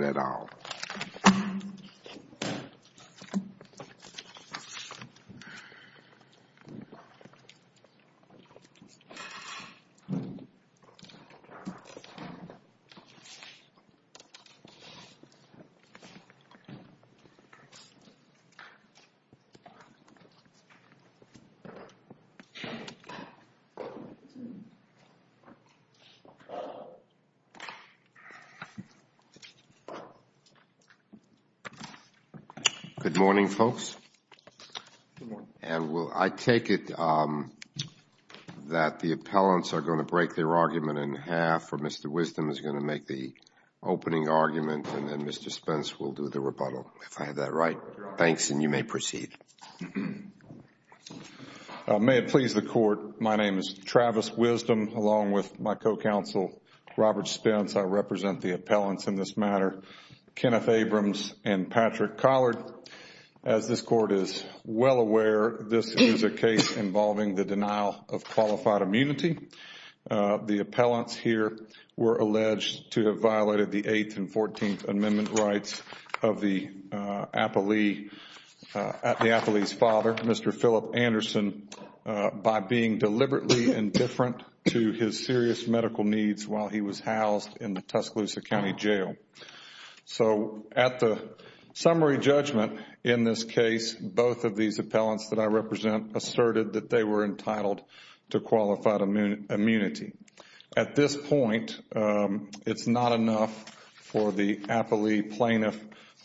at all? Mr. Wisdom, along with my co-counsel, Robert Spence, I represent the appellants in this matter, Kenneth Abrams and Patrick Collard. As this Court is well aware, this is a case involving the denial of qualified immunity. The appellants here were alleged to have violated the Eighth and Fourteenth Amendment rights of the appellee's father, Mr. Philip Anderson, by being deliberately indifferent to his serious medical needs while he was housed in the Tuscaloosa County Jail. At the summary judgment in this case, both of these appellants that I represent asserted that they were entitled to qualified immunity. At this point, it is not enough for the appellee plaintiff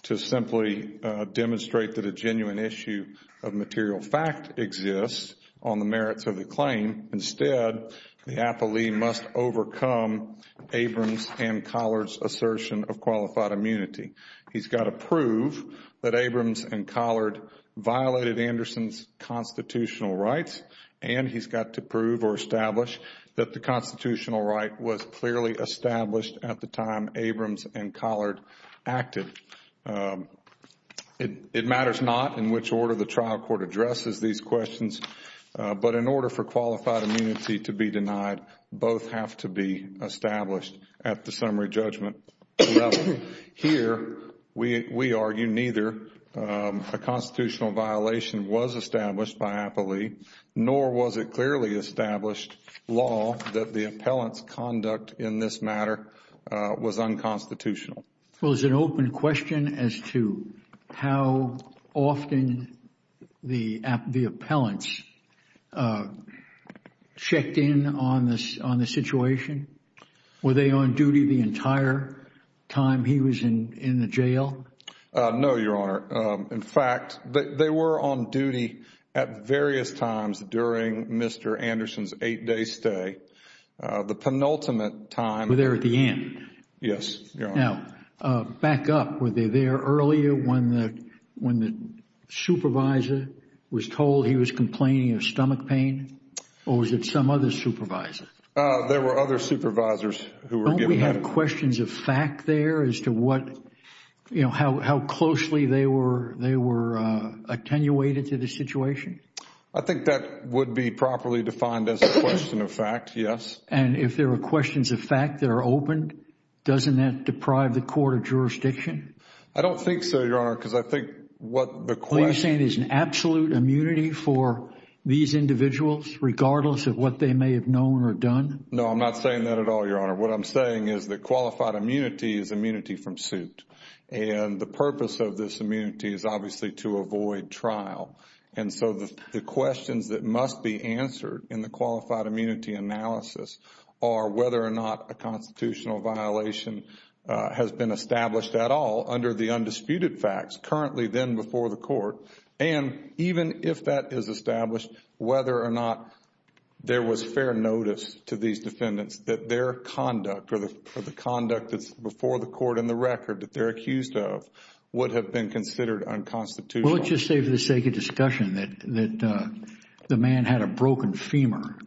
to simply demonstrate that a genuine issue of material fact exists on the merits of the claim. Instead, the appellee must overcome Abrams and Collard's assertion of qualified immunity. He has got to prove that Abrams and Collard violated Anderson's constitutional rights and he has got to prove or establish that the constitutional right was clearly established at the time Abrams and Collard acted. It matters not in which order the trial court addresses these questions, but in order for qualified immunity to be denied, both have to be established at the summary judgment level. Here, we argue neither a constitutional violation was established by appellee, nor was it clearly established law that the appellant's conduct in this matter was unconstitutional. Well, is it an open question as to how often the appellants checked in on the situation? Were they on duty the entire time he was in the jail? No, Your Honor. In fact, they were on duty at various times during Mr. Anderson's eight-day stay. The penultimate time… Yes, Your Honor. Now, back up. Were they there earlier when the supervisor was told he was complaining of stomach pain or was it some other supervisor? There were other supervisors who were given that… Don't we have questions of fact there as to what, you know, how closely they were attenuated to the situation? I think that would be properly defined as a question of fact, yes. And if there were questions of fact that are open, doesn't that deprive the court of jurisdiction? I don't think so, Your Honor, because I think what the question… Are you saying there's an absolute immunity for these individuals regardless of what they may have known or done? No, I'm not saying that at all, Your Honor. What I'm saying is that qualified immunity is immunity from suit. And the purpose of this immunity is obviously to avoid trial. And so, the questions that must be answered in the qualified immunity analysis are whether or not a constitutional violation has been established at all under the undisputed facts currently then before the court. And even if that is established, whether or not there was fair notice to these defendants that their conduct or the conduct that's before the court and the record that they're accused of would have been considered unconstitutional. Well, let's just say for the sake of discussion that the man had a broken femur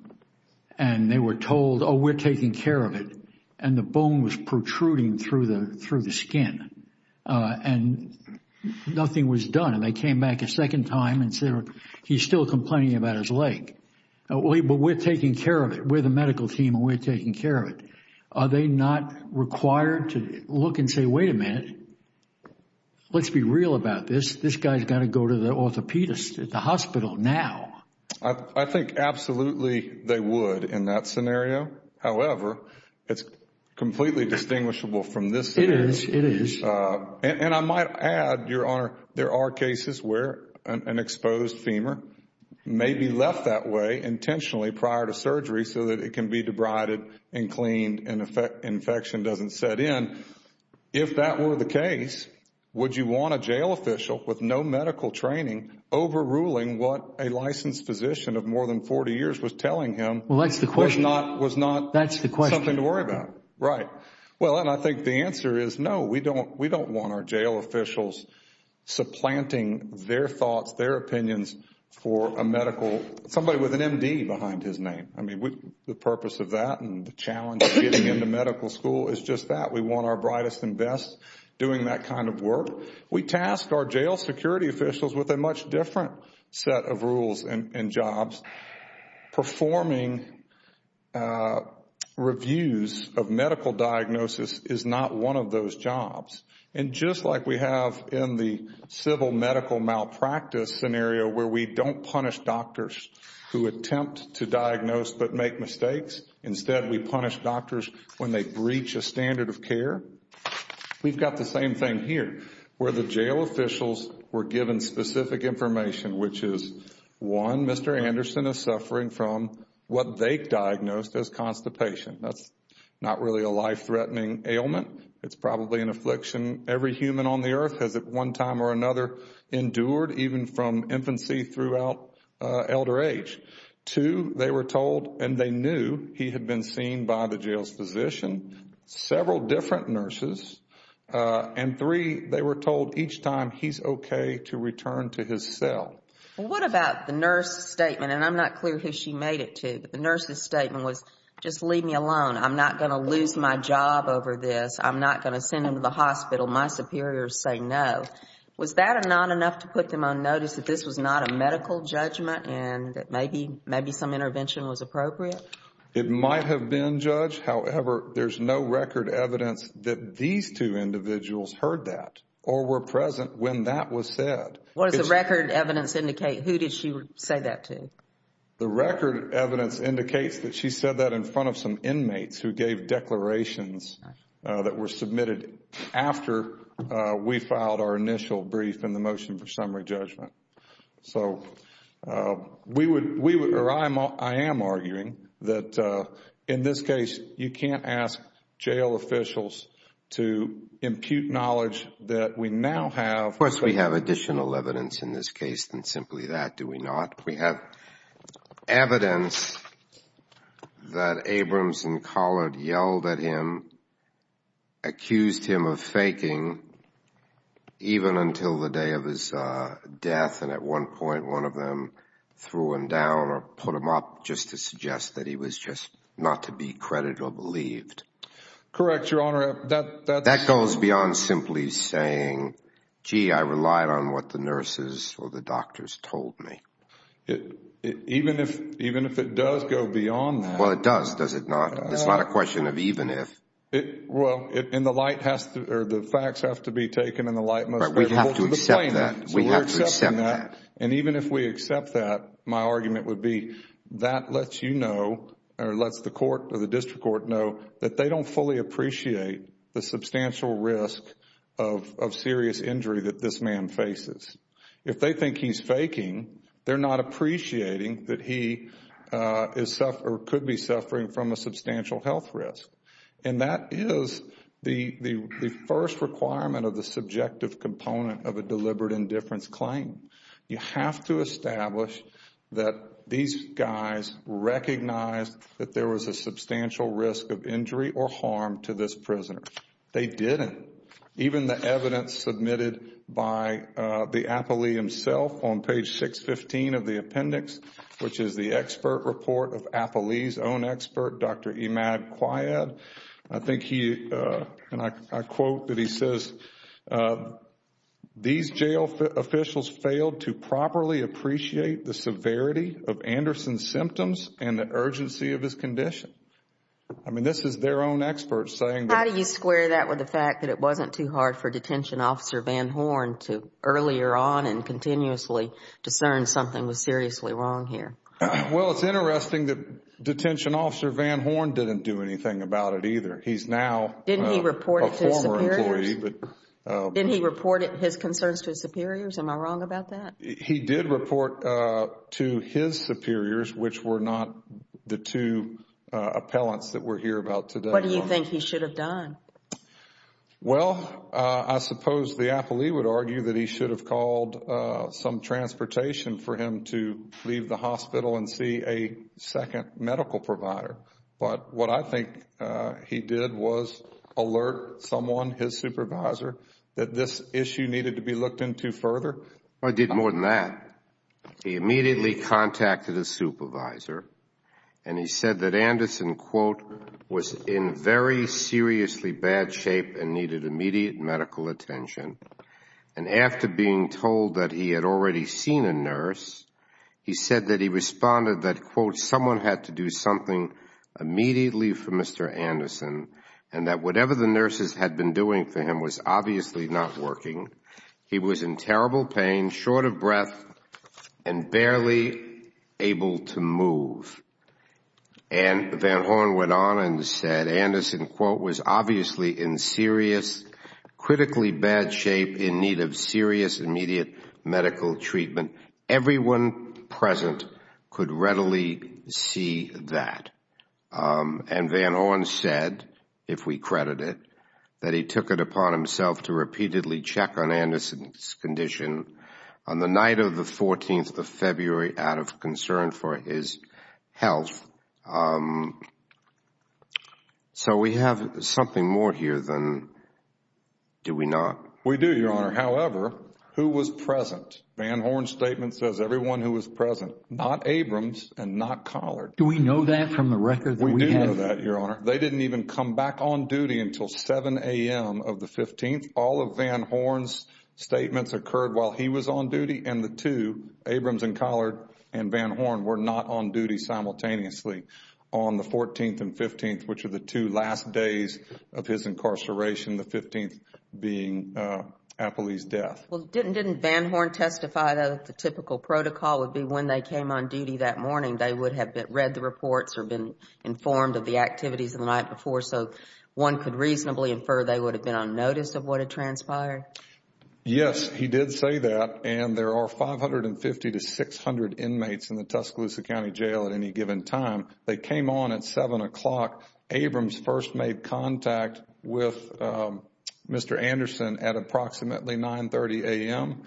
and they were told, oh, we're taking care of it, and the bone was protruding through the skin and nothing was done. And they came back a second time and said, he's still complaining about his leg, but we're taking care of it. We're the medical team and we're taking care of it. Are they not required to look and say, wait a minute, let's be real about this. This guy's got to go to the orthopedist at the hospital now. I think absolutely they would in that scenario. However, it's completely distinguishable from this scenario. It is. It is. And I might add, Your Honor, there are cases where an exposed femur may be left that way intentionally prior to surgery so that it can be debrided and cleaned and infection doesn't set in. If that were the case, would you want a jail official with no medical training overruling what a licensed physician of more than 40 years was telling him was not something to Well, that's the question. Right. Well, and I think the answer is no. We don't want our jail officials supplanting their thoughts, their opinions for a medical... somebody with an MD behind his name. The purpose of that and the challenge of getting into medical school is just that. We want our brightest and best doing that kind of work. We task our jail security officials with a much different set of rules and jobs. Performing reviews of medical diagnosis is not one of those jobs. And just like we have in the civil medical malpractice scenario where we don't punish doctors who attempt to diagnose but make mistakes, instead we punish doctors when they breach a standard of care. We've got the same thing here where the jail officials were given specific information which is one, Mr. Anderson is suffering from what they diagnosed as constipation. That's not really a life-threatening ailment. It's probably an affliction every human on the earth has at one time or another endured even from infancy throughout elder age. Two, they were told and they knew he had been seen by the jail's physician, several different nurses and three, they were told each time he's okay to return to his cell. What about the nurse's statement and I'm not clear who she made it to, but the nurse's statement was just leave me alone, I'm not going to lose my job over this, I'm not going to send him to the hospital, my superiors say no. Was that not enough to put them on notice that this was not a medical judgment and that maybe some intervention was appropriate? It might have been, Judge, however, there's no record evidence that these two individuals heard that or were present when that was said. What does the record evidence indicate, who did she say that to? The record evidence indicates that she said that in front of some inmates who gave declarations that were submitted after we filed our initial brief and the motion for summary judgment. I am arguing that in this case, you can't ask jail officials to impute knowledge that we now have... Of course, we have additional evidence in this case than simply that, do we not? We have evidence that Abrams and Collard yelled at him, accused him of faking even until the day of his death, and at one point, one of them threw him down or put him up just to suggest that he was just not to be credited or believed. Correct, Your Honor. That goes beyond simply saying, gee, I relied on what the nurses or the doctors told me. Even if it does go beyond that... Well, it does, does it not? It's not a question of even if. Well, the facts have to be taken in the light most... We have to accept that. We have to accept that. We're accepting that. Even if we accept that, my argument would be that lets you know or lets the court or the district court know that they don't fully appreciate the substantial risk of serious injury that this man faces. If they think he's faking, they're not appreciating that he could be suffering from a substantial health risk. And that is the first requirement of the subjective component of a deliberate indifference claim. You have to establish that these guys recognized that there was a substantial risk of injury or harm to this prisoner. They didn't. Even the evidence submitted by the appellee himself on page 615 of the appendix, which I think he, and I quote that he says, these jail officials failed to properly appreciate the severity of Anderson's symptoms and the urgency of his condition. This is their own experts saying... How do you square that with the fact that it wasn't too hard for detention officer Van Horn to earlier on and continuously discern something was seriously wrong here? Well, it's interesting that detention officer Van Horn didn't do anything about it either. He's now... Didn't he report it to his superiors?... a former employee, but... Didn't he report his concerns to his superiors? Am I wrong about that? He did report to his superiors, which were not the two appellants that we're here about today. What do you think he should have done? Well, I suppose the appellee would argue that he should have called some transportation for him to leave the hospital and see a second medical provider. But what I think he did was alert someone, his supervisor, that this issue needed to be looked into further. Well, he did more than that. He immediately contacted his supervisor and he said that Anderson, quote, was in very seriously bad shape and needed immediate medical attention. And after being told that he had already seen a nurse, he said that he responded that, quote, someone had to do something immediately for Mr. Anderson and that whatever the nurses had been doing for him was obviously not working. He was in terrible pain, short of breath, and barely able to move. And Van Horn went on and said Anderson, quote, was obviously in serious, critically bad shape in need of serious immediate medical treatment. Everyone present could readily see that. And Van Horn said, if we credit it, that he took it upon himself to repeatedly check on Van Horn's health. So we have something more here than do we not? We do, Your Honor. However, who was present? Van Horn's statement says everyone who was present. Not Abrams and not Collard. Do we know that from the record? We do know that, Your Honor. They didn't even come back on duty until 7 a.m. of the 15th. All of Van Horn's statements occurred while he was on duty and the two, Abrams and Collard and Van Horn were not on duty simultaneously on the 14th and 15th, which were the two last days of his incarceration, the 15th being Apley's death. Well, didn't Van Horn testify that the typical protocol would be when they came on duty that morning they would have read the reports or been informed of the activities of the night before so one could reasonably infer they would have been on notice of what had transpired? Yes, he did say that. And there are 550 to 600 inmates in the Tuscaloosa County Jail at any given time. They came on at 7 o'clock. Abrams first made contact with Mr. Anderson at approximately 9.30 a.m.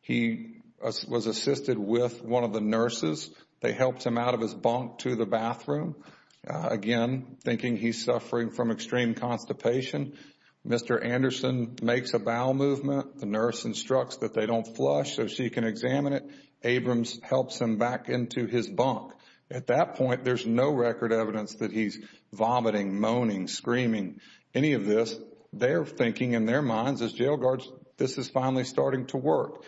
He was assisted with one of the nurses. They helped him out of his bunk to the bathroom, again, thinking he's suffering from extreme constipation. Mr. Anderson makes a bowel movement. The nurse instructs that they don't flush so she can examine it. Abrams helps him back into his bunk. At that point, there's no record evidence that he's vomiting, moaning, screaming, any of this. They're thinking in their minds as jail guards, this is finally starting to work.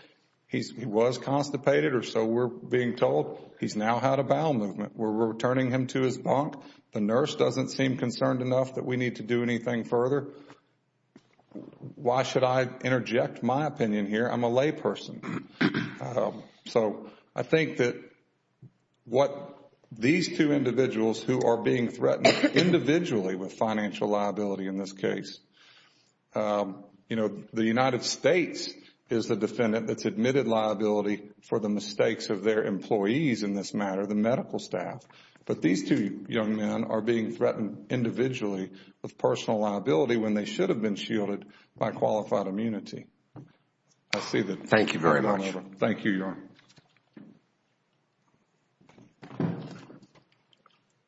He was constipated or so we're being told. He's now had a bowel movement. We're returning him to his bunk. The nurse doesn't seem concerned enough that we need to do anything further. Why should I interject my opinion here? I'm a layperson. I think that these two individuals who are being threatened individually with financial liability in this case, the United States is the defendant that's admitted liability for the mistakes of their employees in this matter, the medical staff. But these two young men are being threatened individually with personal liability when they should have been shielded by qualified immunity. I see that. Thank you very much. Thank you, Your Honor.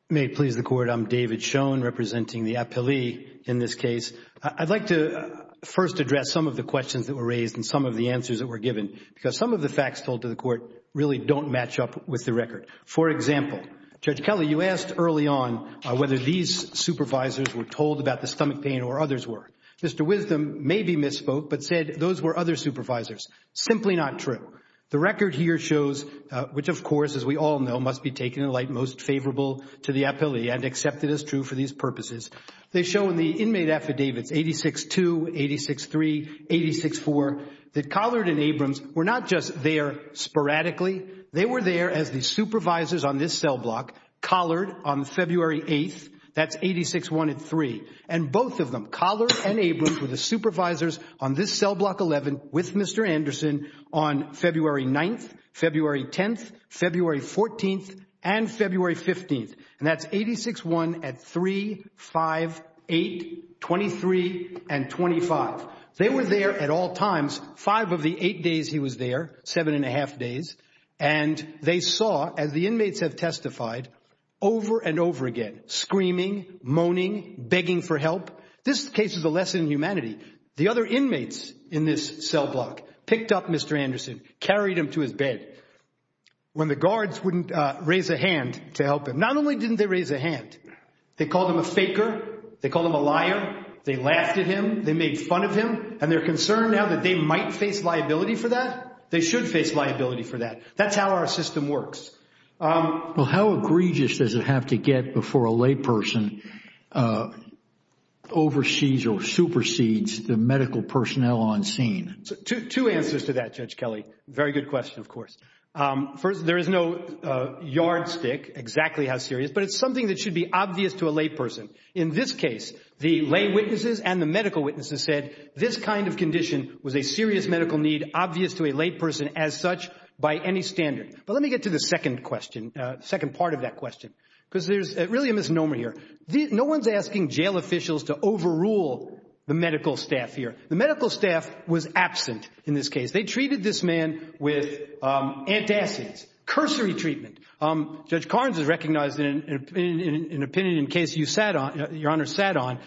May it please the Court, I'm David Schoen representing the appellee in this case. I'd like to first address some of the questions that were raised and some of the answers that were given because some of the facts told to the Court really don't match up with the record. For example, Judge Kelly, you asked early on whether these supervisors were told about the stomach pain or others were. Mr. Wisdom maybe misspoke but said those were other supervisors. Simply not true. The record here shows, which of course as we all know must be taken in light most favorable to the appellee and accepted as true for these purposes. They show in the inmate affidavits 86-2, 86-3, 86-4 that Collard and Abrams were not just there sporadically. They were there as the supervisors on this cell block, Collard on February 8th. That's 86-1 at 3. And both of them, Collard and Abrams were the supervisors on this cell block 11 with Mr. Anderson on February 9th, February 10th, February 14th, and February 15th. And that's 86-1 at 3, 5, 8, 23, and 25. They were there at all times, five of the eight days he was there, seven and a half days, and they saw as the inmates have testified over and over again, screaming, moaning, begging for help. This case is a lesson in humanity. The other inmates in this cell block picked up Mr. Anderson, carried him to his bed when the guards wouldn't raise a hand to help him. Not only didn't they raise a hand, they called him a faker. They called him a liar. They laughed at him. They made fun of him. And they're concerned now that they might face liability for that. They should face liability for that. That's how our system works. Well, how egregious does it have to get before a layperson oversees or supersedes the medical personnel on scene? Two answers to that, Judge Kelly. Very good question, of course. First, there is no yardstick, exactly how serious, but it's something that should be obvious to a layperson. In this case, the lay witnesses and the medical witnesses said this kind of condition was a serious medical need, obvious to a layperson as such by any standard. But let me get to the second question, second part of that question, because there's really a misnomer here. No one's asking jail officials to overrule the medical staff here. The medical staff was absent in this case. They treated this man with antacids, cursory treatment. Judge Carnes has recognized in an opinion in a case Your Honor sat on,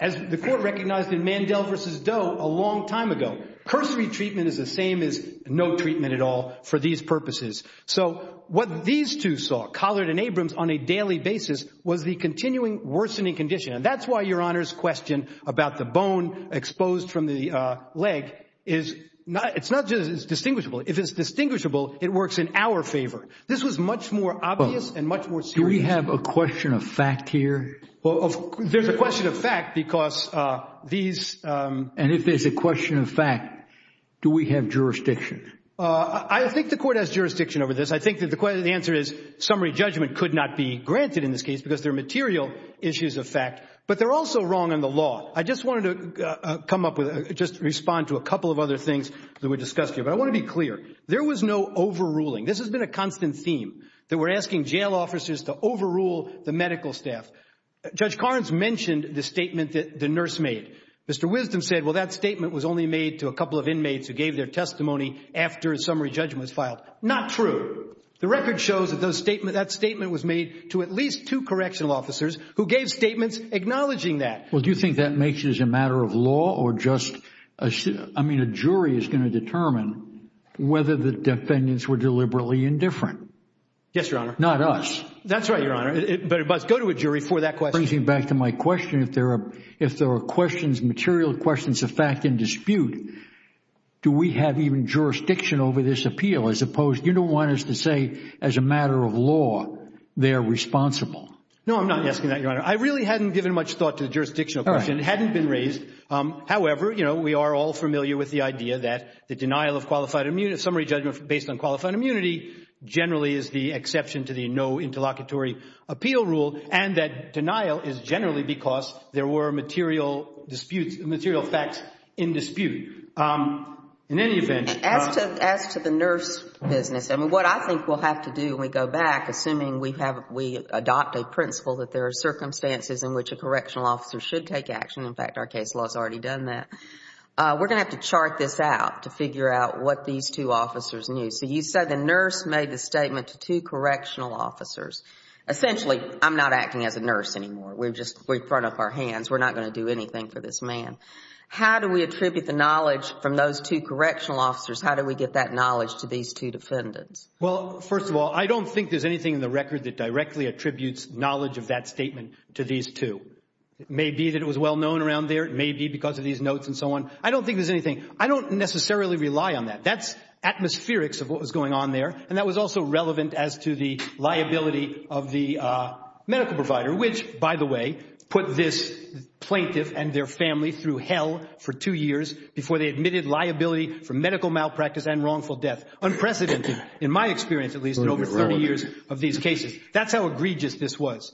as the court recognized in Mandel v. Doe a long time ago, cursory treatment is the same as no treatment at all for these purposes. So what these two saw, Collard and Abrams, on a daily basis was the continuing worsening condition. And that's why Your Honor's question about the bone exposed from the leg, it's not just distinguishable. If it's distinguishable, it works in our favor. This was much more obvious and much more serious. Do we have a question of fact here? Well, there's a question of fact because these... And if there's a question of fact, do we have jurisdiction? I think the court has jurisdiction over this. I think that the answer is summary judgment could not be granted in this case because there are material issues of fact, but they're also wrong in the law. I just wanted to come up with, just respond to a couple of other things that were discussed here. But I want to be clear. There was no overruling. There was no overruling. This has been a constant theme that we're asking jail officers to overrule the medical staff. Judge Carnes mentioned the statement that the nurse made. Mr. Wisdom said, well, that statement was only made to a couple of inmates who gave their testimony after a summary judgment was filed. Not true. The record shows that that statement was made to at least two correctional officers who gave statements acknowledging that. Well, do you think that makes it as a matter of law or just a, I mean, a jury is going to determine whether the defendants were deliberately indifferent? Yes, Your Honor. Not us. That's right, Your Honor. But it must go to a jury for that question. It brings me back to my question. If there are questions, material questions of fact in dispute, do we have even jurisdiction over this appeal as opposed, you don't want us to say as a matter of law they're responsible. No, I'm not asking that, Your Honor. I really hadn't given much thought to the jurisdictional question. It hadn't been raised. However, you know, we are all familiar with the idea that the denial of qualified immunity, summary judgment based on qualified immunity, generally is the exception to the no interlocutory appeal rule and that denial is generally because there were material disputes, material facts in dispute. In any event— As to the nurse business, I mean, what I think we'll have to do when we go back, assuming we have, we adopt a principle that there are circumstances in which a correctional officer should take action. In fact, our case law has already done that. We're going to have to chart this out to figure out what these two officers knew. So you said the nurse made the statement to two correctional officers. Essentially, I'm not acting as a nurse anymore. We've just, we've thrown up our hands. We're not going to do anything for this man. How do we attribute the knowledge from those two correctional officers? How do we get that knowledge to these two defendants? Well, first of all, I don't think there's anything in the record that directly attributes knowledge of that statement to these two. It may be that it was well-known around there. It may be because of these notes and so on. I don't think there's anything. I don't necessarily rely on that. That's atmospherics of what was going on there, and that was also relevant as to the liability of the medical provider, which, by the way, put this plaintiff and their family through hell for two years before they admitted liability for medical malpractice and wrongful death, unprecedented in my experience, at least, in over 30 years of these cases. That's how egregious this was.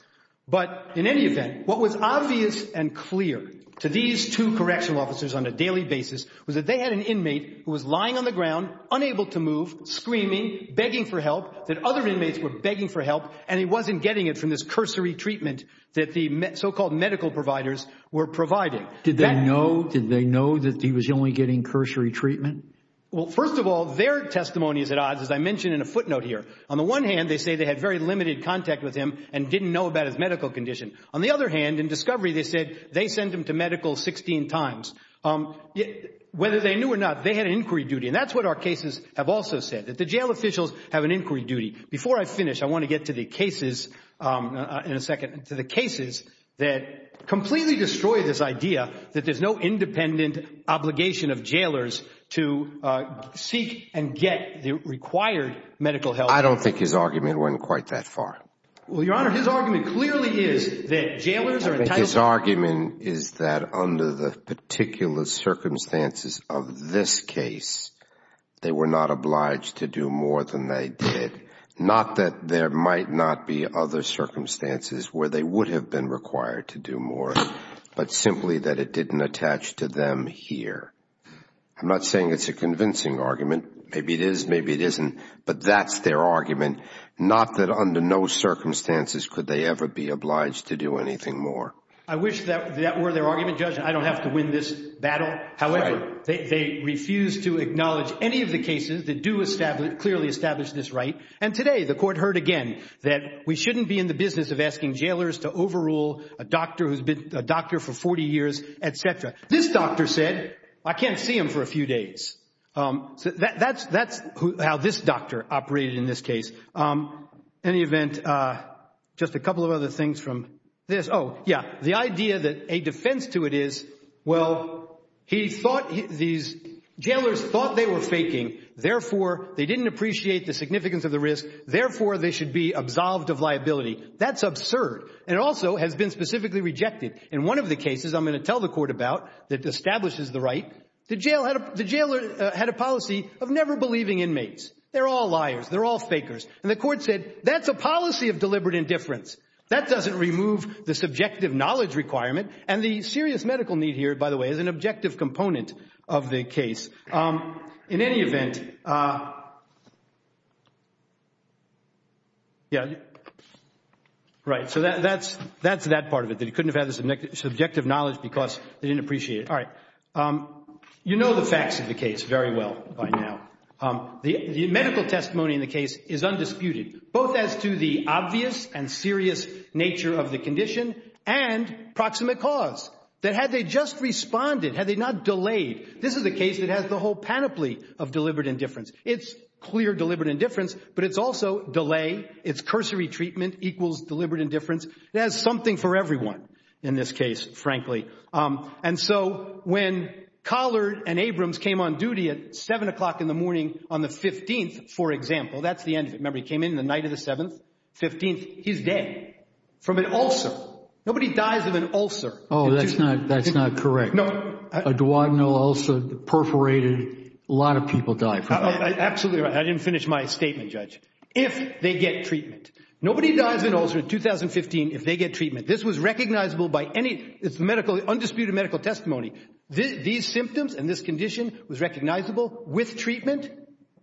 But in any event, what was obvious and clear to these two correctional officers on a daily basis was that they had an inmate who was lying on the ground, unable to move, screaming, begging for help, that other inmates were begging for help, and he wasn't getting it from this cursory treatment that the so-called medical providers were providing. Did they know that he was only getting cursory treatment? Well, first of all, their testimony is at odds, as I mentioned in a footnote here. On the one hand, they say they had very limited contact with him and didn't know about his medical condition. On the other hand, in discovery, they said they sent him to medical 16 times. Whether they knew or not, they had an inquiry duty, and that's what our cases have also said, that the jail officials have an inquiry duty. Before I finish, I want to get to the cases, in a second, to the cases that completely destroy this idea that there's no independent obligation of jailers to seek and get the required medical help. I don't think his argument went quite that far. Well, Your Honor, his argument clearly is that jailers are entitled to- His argument is that under the particular circumstances of this case, they were not obliged to do more than they did. Not that there might not be other circumstances where they would have been required to do more, but simply that it didn't attach to them here. I'm not saying it's a convincing argument. Maybe it is, maybe it isn't, but that's their argument. Not that under no circumstances could they ever be obliged to do anything more. I wish that were their argument, Judge, and I don't have to win this battle. However, they refuse to acknowledge any of the cases that do clearly establish this right. And today, the court heard again that we shouldn't be in the business of asking jailers to overrule a doctor who's been a doctor for 40 years, et cetera. This doctor said, I can't see him for a few days. That's how this doctor operated in this case. In any event, just a couple of other things from this. Oh, yeah. The idea that a defense to it is, well, he thought these- jailers thought they were faking, therefore they didn't appreciate the significance of the risk, therefore they should be absolved of liability. That's absurd. And it also has been specifically rejected. In one of the cases I'm going to tell the court about that establishes the right, the jailer had a policy of never believing inmates. They're all liars. They're all fakers. And the court said, that's a policy of deliberate indifference. That doesn't remove the subjective knowledge requirement. And the serious medical need here, by the way, is an objective component of the case. In any event, yeah, right. So that's that part of it, that he couldn't have had the subjective knowledge because they didn't appreciate it. All right. You know the facts of the case very well by now. The medical testimony in the case is undisputed, both as to the obvious and serious nature of the condition and proximate cause, that had they just responded, had they not delayed, this is a case that has the whole panoply of deliberate indifference. It's clear deliberate indifference, but it's also delay, it's cursory treatment equals deliberate indifference. It has something for everyone in this case, frankly. And so when Collard and Abrams came on duty at seven o'clock in the morning on the 15th, for example, that's the end of it. Remember, he came in the night of the 7th, 15th, he's dead from an ulcer. Nobody dies of an ulcer. Oh, that's not, that's not correct. No. A duodenal ulcer, perforated. A lot of people die from that. Absolutely right. I didn't finish my statement, Judge. If they get treatment. Nobody dies of an ulcer in 2015 if they get treatment. This was recognizable by any, it's the medical, undisputed medical testimony. These symptoms and this condition was recognizable with treatment,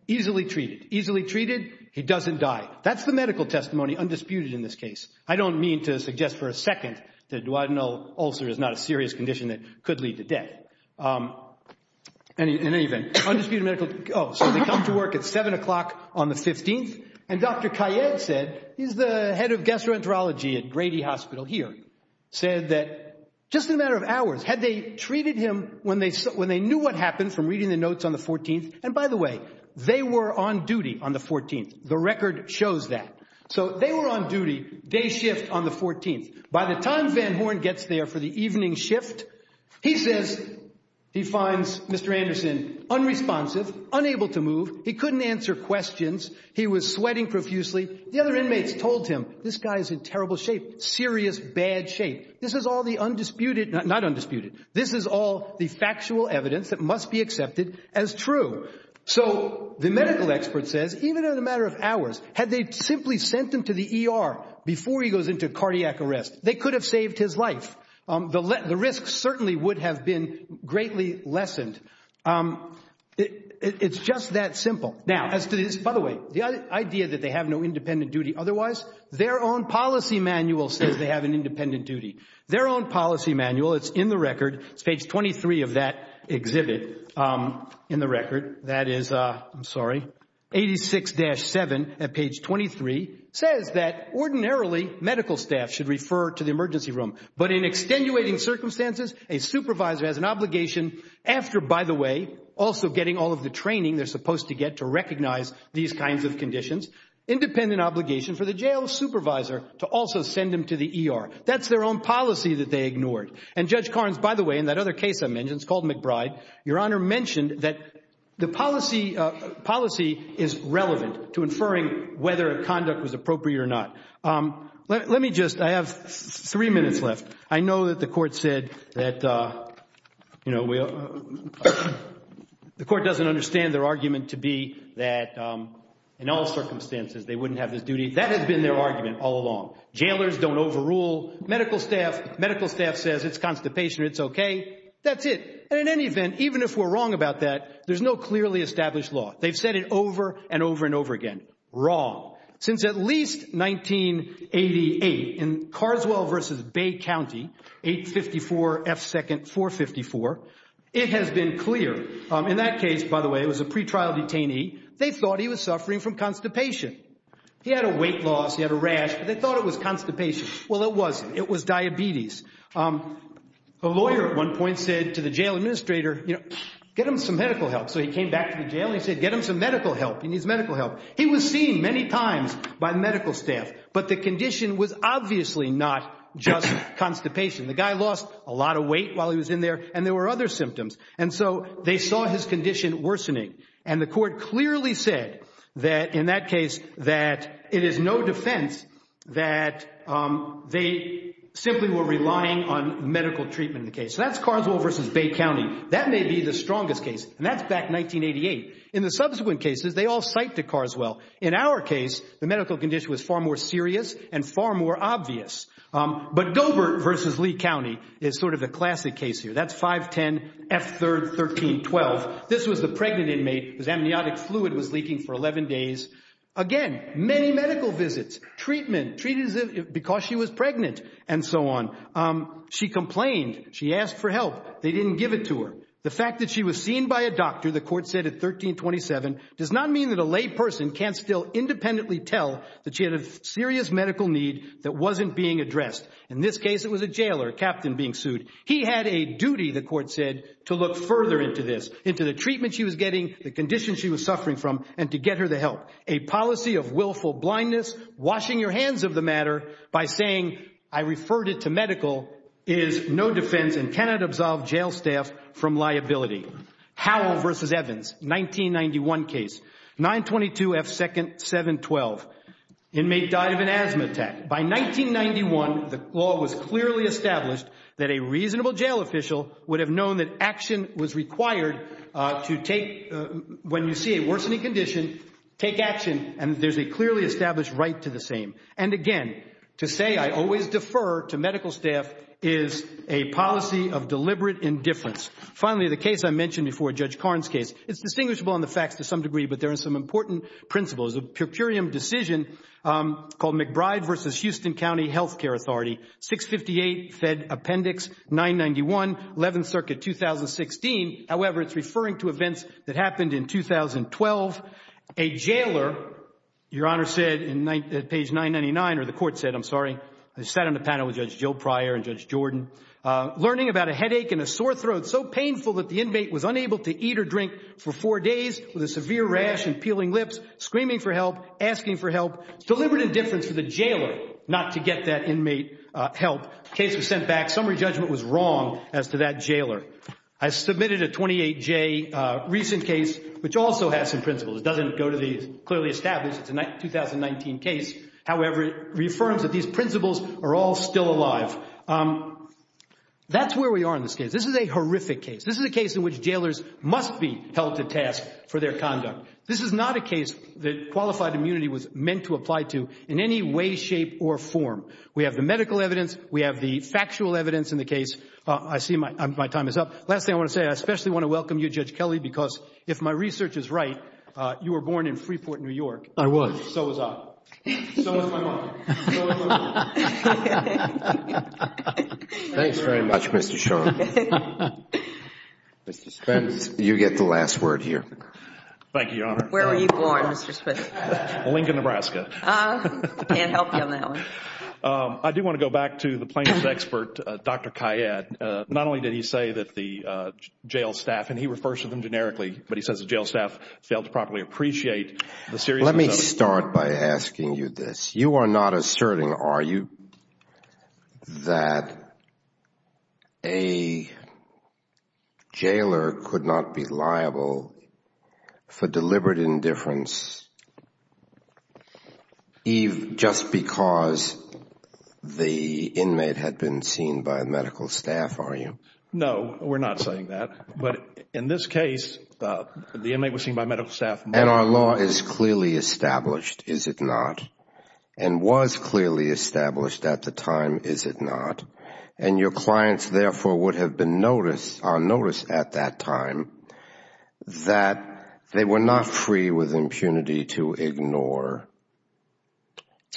easily treated. Easily treated. He doesn't die. That's the medical testimony undisputed in this case. I don't mean to suggest for a second that a duodenal ulcer is not a serious condition that could lead to death. In any event, undisputed medical, oh, so they come to work at seven o'clock on the 15th and Dr. Kayyad said, he's the head of gastroenterology at Grady Hospital here, said that just a matter of hours had they treated him when they knew what happened from reading the notes on the 14th. And by the way, they were on duty on the 14th. The record shows that. So they were on duty, day shift on the 14th. By the time Van Horn gets there for the evening shift, he says, he finds Mr. Anderson unresponsive, unable to move. He couldn't answer questions. He was sweating profusely. The other inmates told him, this guy is in terrible shape, serious, bad shape. This is all the undisputed, not undisputed. This is all the factual evidence that must be accepted as true. So the medical expert says, even in a matter of hours, had they simply sent him to the ER before he goes into cardiac arrest, they could have saved his life. The risk certainly would have been greatly lessened. It's just that simple. Now, as to this, by the way, the idea that they have no independent duty otherwise, their own policy manual says they have an independent duty. Their own policy manual, it's in the record, it's page 23 of that exhibit, in the record, that is, I'm sorry, 86-7 at page 23, says that ordinarily, medical staff should refer to the emergency room. But in extenuating circumstances, a supervisor has an obligation after, by the way, also getting all of the training they're supposed to get to recognize these kinds of conditions, independent obligation for the jail supervisor to also send him to the ER. That's their own policy that they ignored. And Judge Carnes, by the way, in that other case I mentioned, it's called McBride, Your Honor mentioned that the policy is relevant to inferring whether a conduct was appropriate or not. Let me just, I have three minutes left. I know that the court said that, you know, the court doesn't understand their argument to be that in all circumstances they wouldn't have this duty. That has been their argument all along. Jailers don't overrule medical staff. Medical staff says it's constipation, it's okay. That's it. And in any event, even if we're wrong about that, there's no clearly established law. They've said it over and over and over again, wrong. Since at least 1988, in Carswell v. Bay County, 854 F. 2nd 454, it has been clear, in that case, by the way, it was a pretrial detainee. They thought he was suffering from constipation. He had a weight loss, he had a rash, but they thought it was constipation. Well, it wasn't. It was diabetes. A lawyer at one point said to the jail administrator, you know, get him some medical help. So he came back to the jail and he said, get him some medical help. He needs medical help. He was seen many times by medical staff, but the condition was obviously not just constipation. The guy lost a lot of weight while he was in there and there were other symptoms. And so they saw his condition worsening. And the court clearly said that in that case, that it is no defense that they simply were relying on medical treatment in the case. So that's Carswell v. Bay County. That may be the strongest case. And that's back 1988. In the subsequent cases, they all cite to Carswell. In our case, the medical condition was far more serious and far more obvious. But Dobert v. Lee County is sort of the classic case here. That's 5-10, F-3rd, 13-12. This was the pregnant inmate whose amniotic fluid was leaking for 11 days. Again, many medical visits, treatment, treated because she was pregnant and so on. She complained. She asked for help. They didn't give it to her. The fact that she was seen by a doctor, the court said at 1327, does not mean that a lay person can't still independently tell that she had a serious medical need that wasn't being addressed. In this case, it was a jailer, a captain being sued. He had a duty, the court said, to look further into this, into the treatment she was getting, the condition she was suffering from, and to get her the help. A policy of willful blindness, washing your hands of the matter by saying, I referred it to medical, is no defense and cannot absolve jail staff from liability. Howell v. Evans, 1991 case, 9-22, F-2nd, 7-12. Inmate died of an asthma attack. By 1991, the law was clearly established that a reasonable jail official would have known that action was required to take, when you see a worsening condition, take action. And there's a clearly established right to the same. And again, to say, I always defer to medical staff, is a policy of deliberate indifference. Finally, the case I mentioned before, Judge Karn's case, it's distinguishable on the facts to some degree, but there are some important principles. A per curiam decision called McBride v. Houston County Health Care Authority, 658 Fed Appendix 991, 11th Circuit, 2016, however, it's referring to events that happened in 2012. A jailer, Your Honor said in page 999, or the court said, I'm sorry, I sat on the panel with Judge Jill Pryor and Judge Jordan, learning about a headache and a sore throat, so painful that the inmate was unable to eat or drink for four days with a severe rash and peeling lips, screaming for help, asking for help, deliberate indifference for the jailer not to get that inmate help, case was sent back, summary judgment was wrong as to that jailer. I submitted a 28-J recent case, which also has some principles, it doesn't go to the clearly established, it's a 2019 case, however, it reaffirms that these principles are all still alive. That's where we are in this case. This is a horrific case. This is a case in which jailers must be held to task for their conduct. This is not a case that qualified immunity was meant to apply to in any way, shape, or form. We have the medical evidence, we have the factual evidence in the case, I see my time is up. Last thing I want to say, I especially want to welcome you, Judge Kelly, because if my research is right, you were born in Freeport, New York. I was. So was I. So was my mother. So was my father. Thanks very much, Mr. Shor. Mr. Spence, you get the last word here. Thank you, Your Honor. Where were you born, Mr. Spence? Lincoln, Nebraska. Can't help you on that one. I do want to go back to the plaintiff's expert, Dr. Kayyad. Not only did he say that the jail staff, and he refers to them generically, but he says the jail staff failed to properly appreciate the seriousness of— Let me start by asking you this. You are not asserting, are you, that a jailer could not be liable for deliberate indifference just because the inmate had been seen by medical staff, are you? No. We're not saying that. But in this case, the inmate was seen by medical staff— And our law is clearly established, is it not? And was clearly established at the time, is it not? And your clients, therefore, would have been on notice at that time that they were not free with impunity to ignore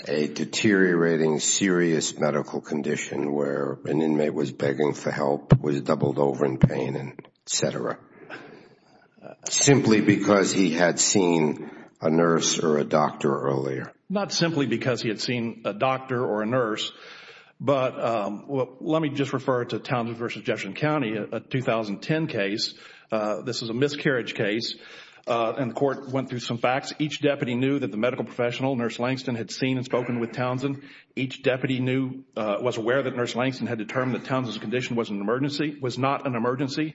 a deteriorating, serious medical condition where an inmate was begging for help, was doubled over in pain, et cetera, simply because he had seen a nurse or a doctor earlier. Not simply because he had seen a doctor or a nurse, but let me just refer to Townsend v. Jefferson County, a 2010 case. This is a miscarriage case, and the court went through some facts. Each deputy knew that the medical professional, Nurse Langston, had seen and spoken with Townsend. Each deputy was aware that Nurse Langston had determined that Townsend's condition was not an emergency,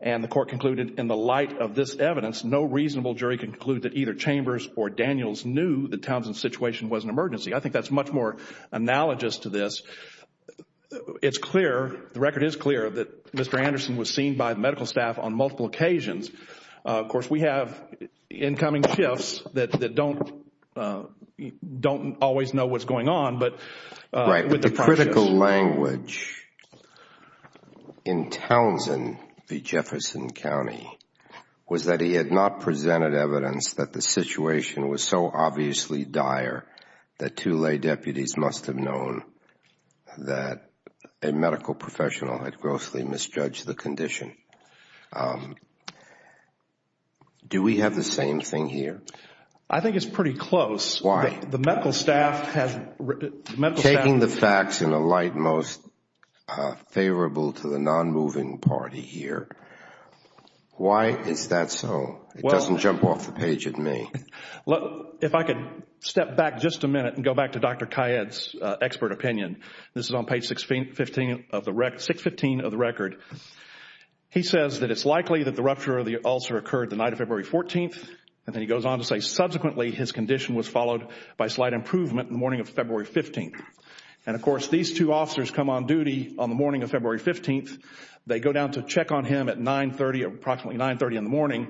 and the court concluded, in the light of this evidence, no reasonable jury can conclude that either Chambers or Daniels knew that Townsend's situation was an emergency. I think that's much more analogous to this. It's clear, the record is clear, that Mr. Anderson was seen by the medical staff on multiple occasions. Of course, we have incoming shifts that don't always know what's going on, but with the process. Right. The critical language in Townsend v. Jefferson County was that he had not presented evidence that the situation was so obviously dire that two lay deputies must have known that a medical professional had grossly misjudged the condition. Do we have the same thing here? I think it's pretty close. Why? The medical staff has... Taking the facts in a light most favorable to the non-moving party here, why is that so? It doesn't jump off the page at me. If I could step back just a minute and go back to Dr. Kayyad's expert opinion. This is on page 615 of the record. He says that it's likely that the rupture of the ulcer occurred the night of February 14th. Then he goes on to say subsequently his condition was followed by slight improvement in the morning of February 15th. Of course, these two officers come on duty on the morning of February 15th. They go down to check on him at approximately 9.30 in the morning.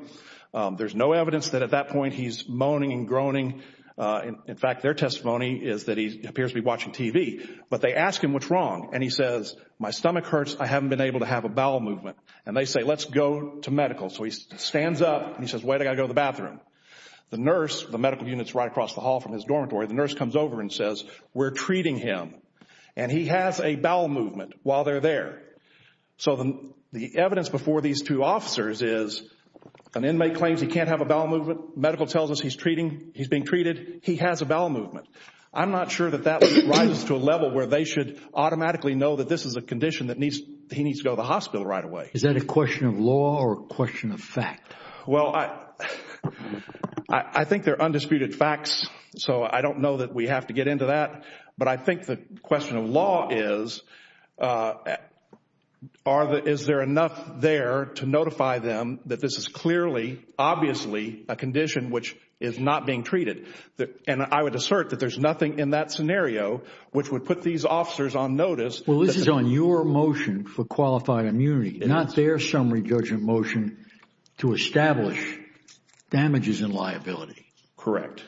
There's no evidence that at that point he's moaning and groaning. In fact, their testimony is that he appears to be watching TV. But they ask him what's wrong and he says, my stomach hurts. I haven't been able to have a bowel movement. And they say, let's go to medical. So he stands up and he says, wait, I've got to go to the bathroom. The nurse, the medical unit's right across the hall from his dormitory, the nurse comes over and says, we're treating him. And he has a bowel movement while they're there. So the evidence before these two officers is an inmate claims he can't have a bowel movement. Medical tells us he's being treated. He has a bowel movement. I'm not sure that that rises to a level where they should automatically know that this is a condition that he needs to go to the hospital right away. Is that a question of law or a question of fact? Well, I think they're undisputed facts. So I don't know that we have to get into that. But I think the question of law is, is there enough there to notify them that this is clearly, obviously a condition which is not being treated? And I would assert that there's nothing in that scenario which would put these officers on notice. Well, this is on your motion for qualified immunity, not their summary judgment motion to establish damages and liability. Correct.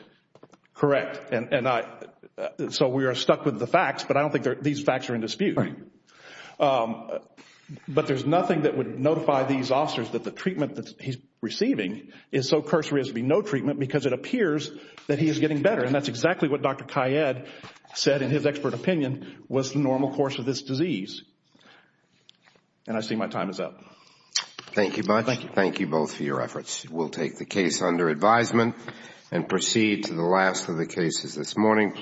Correct. And so we are stuck with the facts, but I don't think these facts are in dispute. But there's nothing that would notify these officers that the treatment that he's receiving is so cursory as to be no treatment because it appears that he is getting better. And that's exactly what Dr. Kayyad said in his expert opinion was the normal course of this disease. And I see my time is up. Thank you much. Thank you. Thank you both for your efforts. We'll take the case under advisement and proceed to the last of the cases this morning.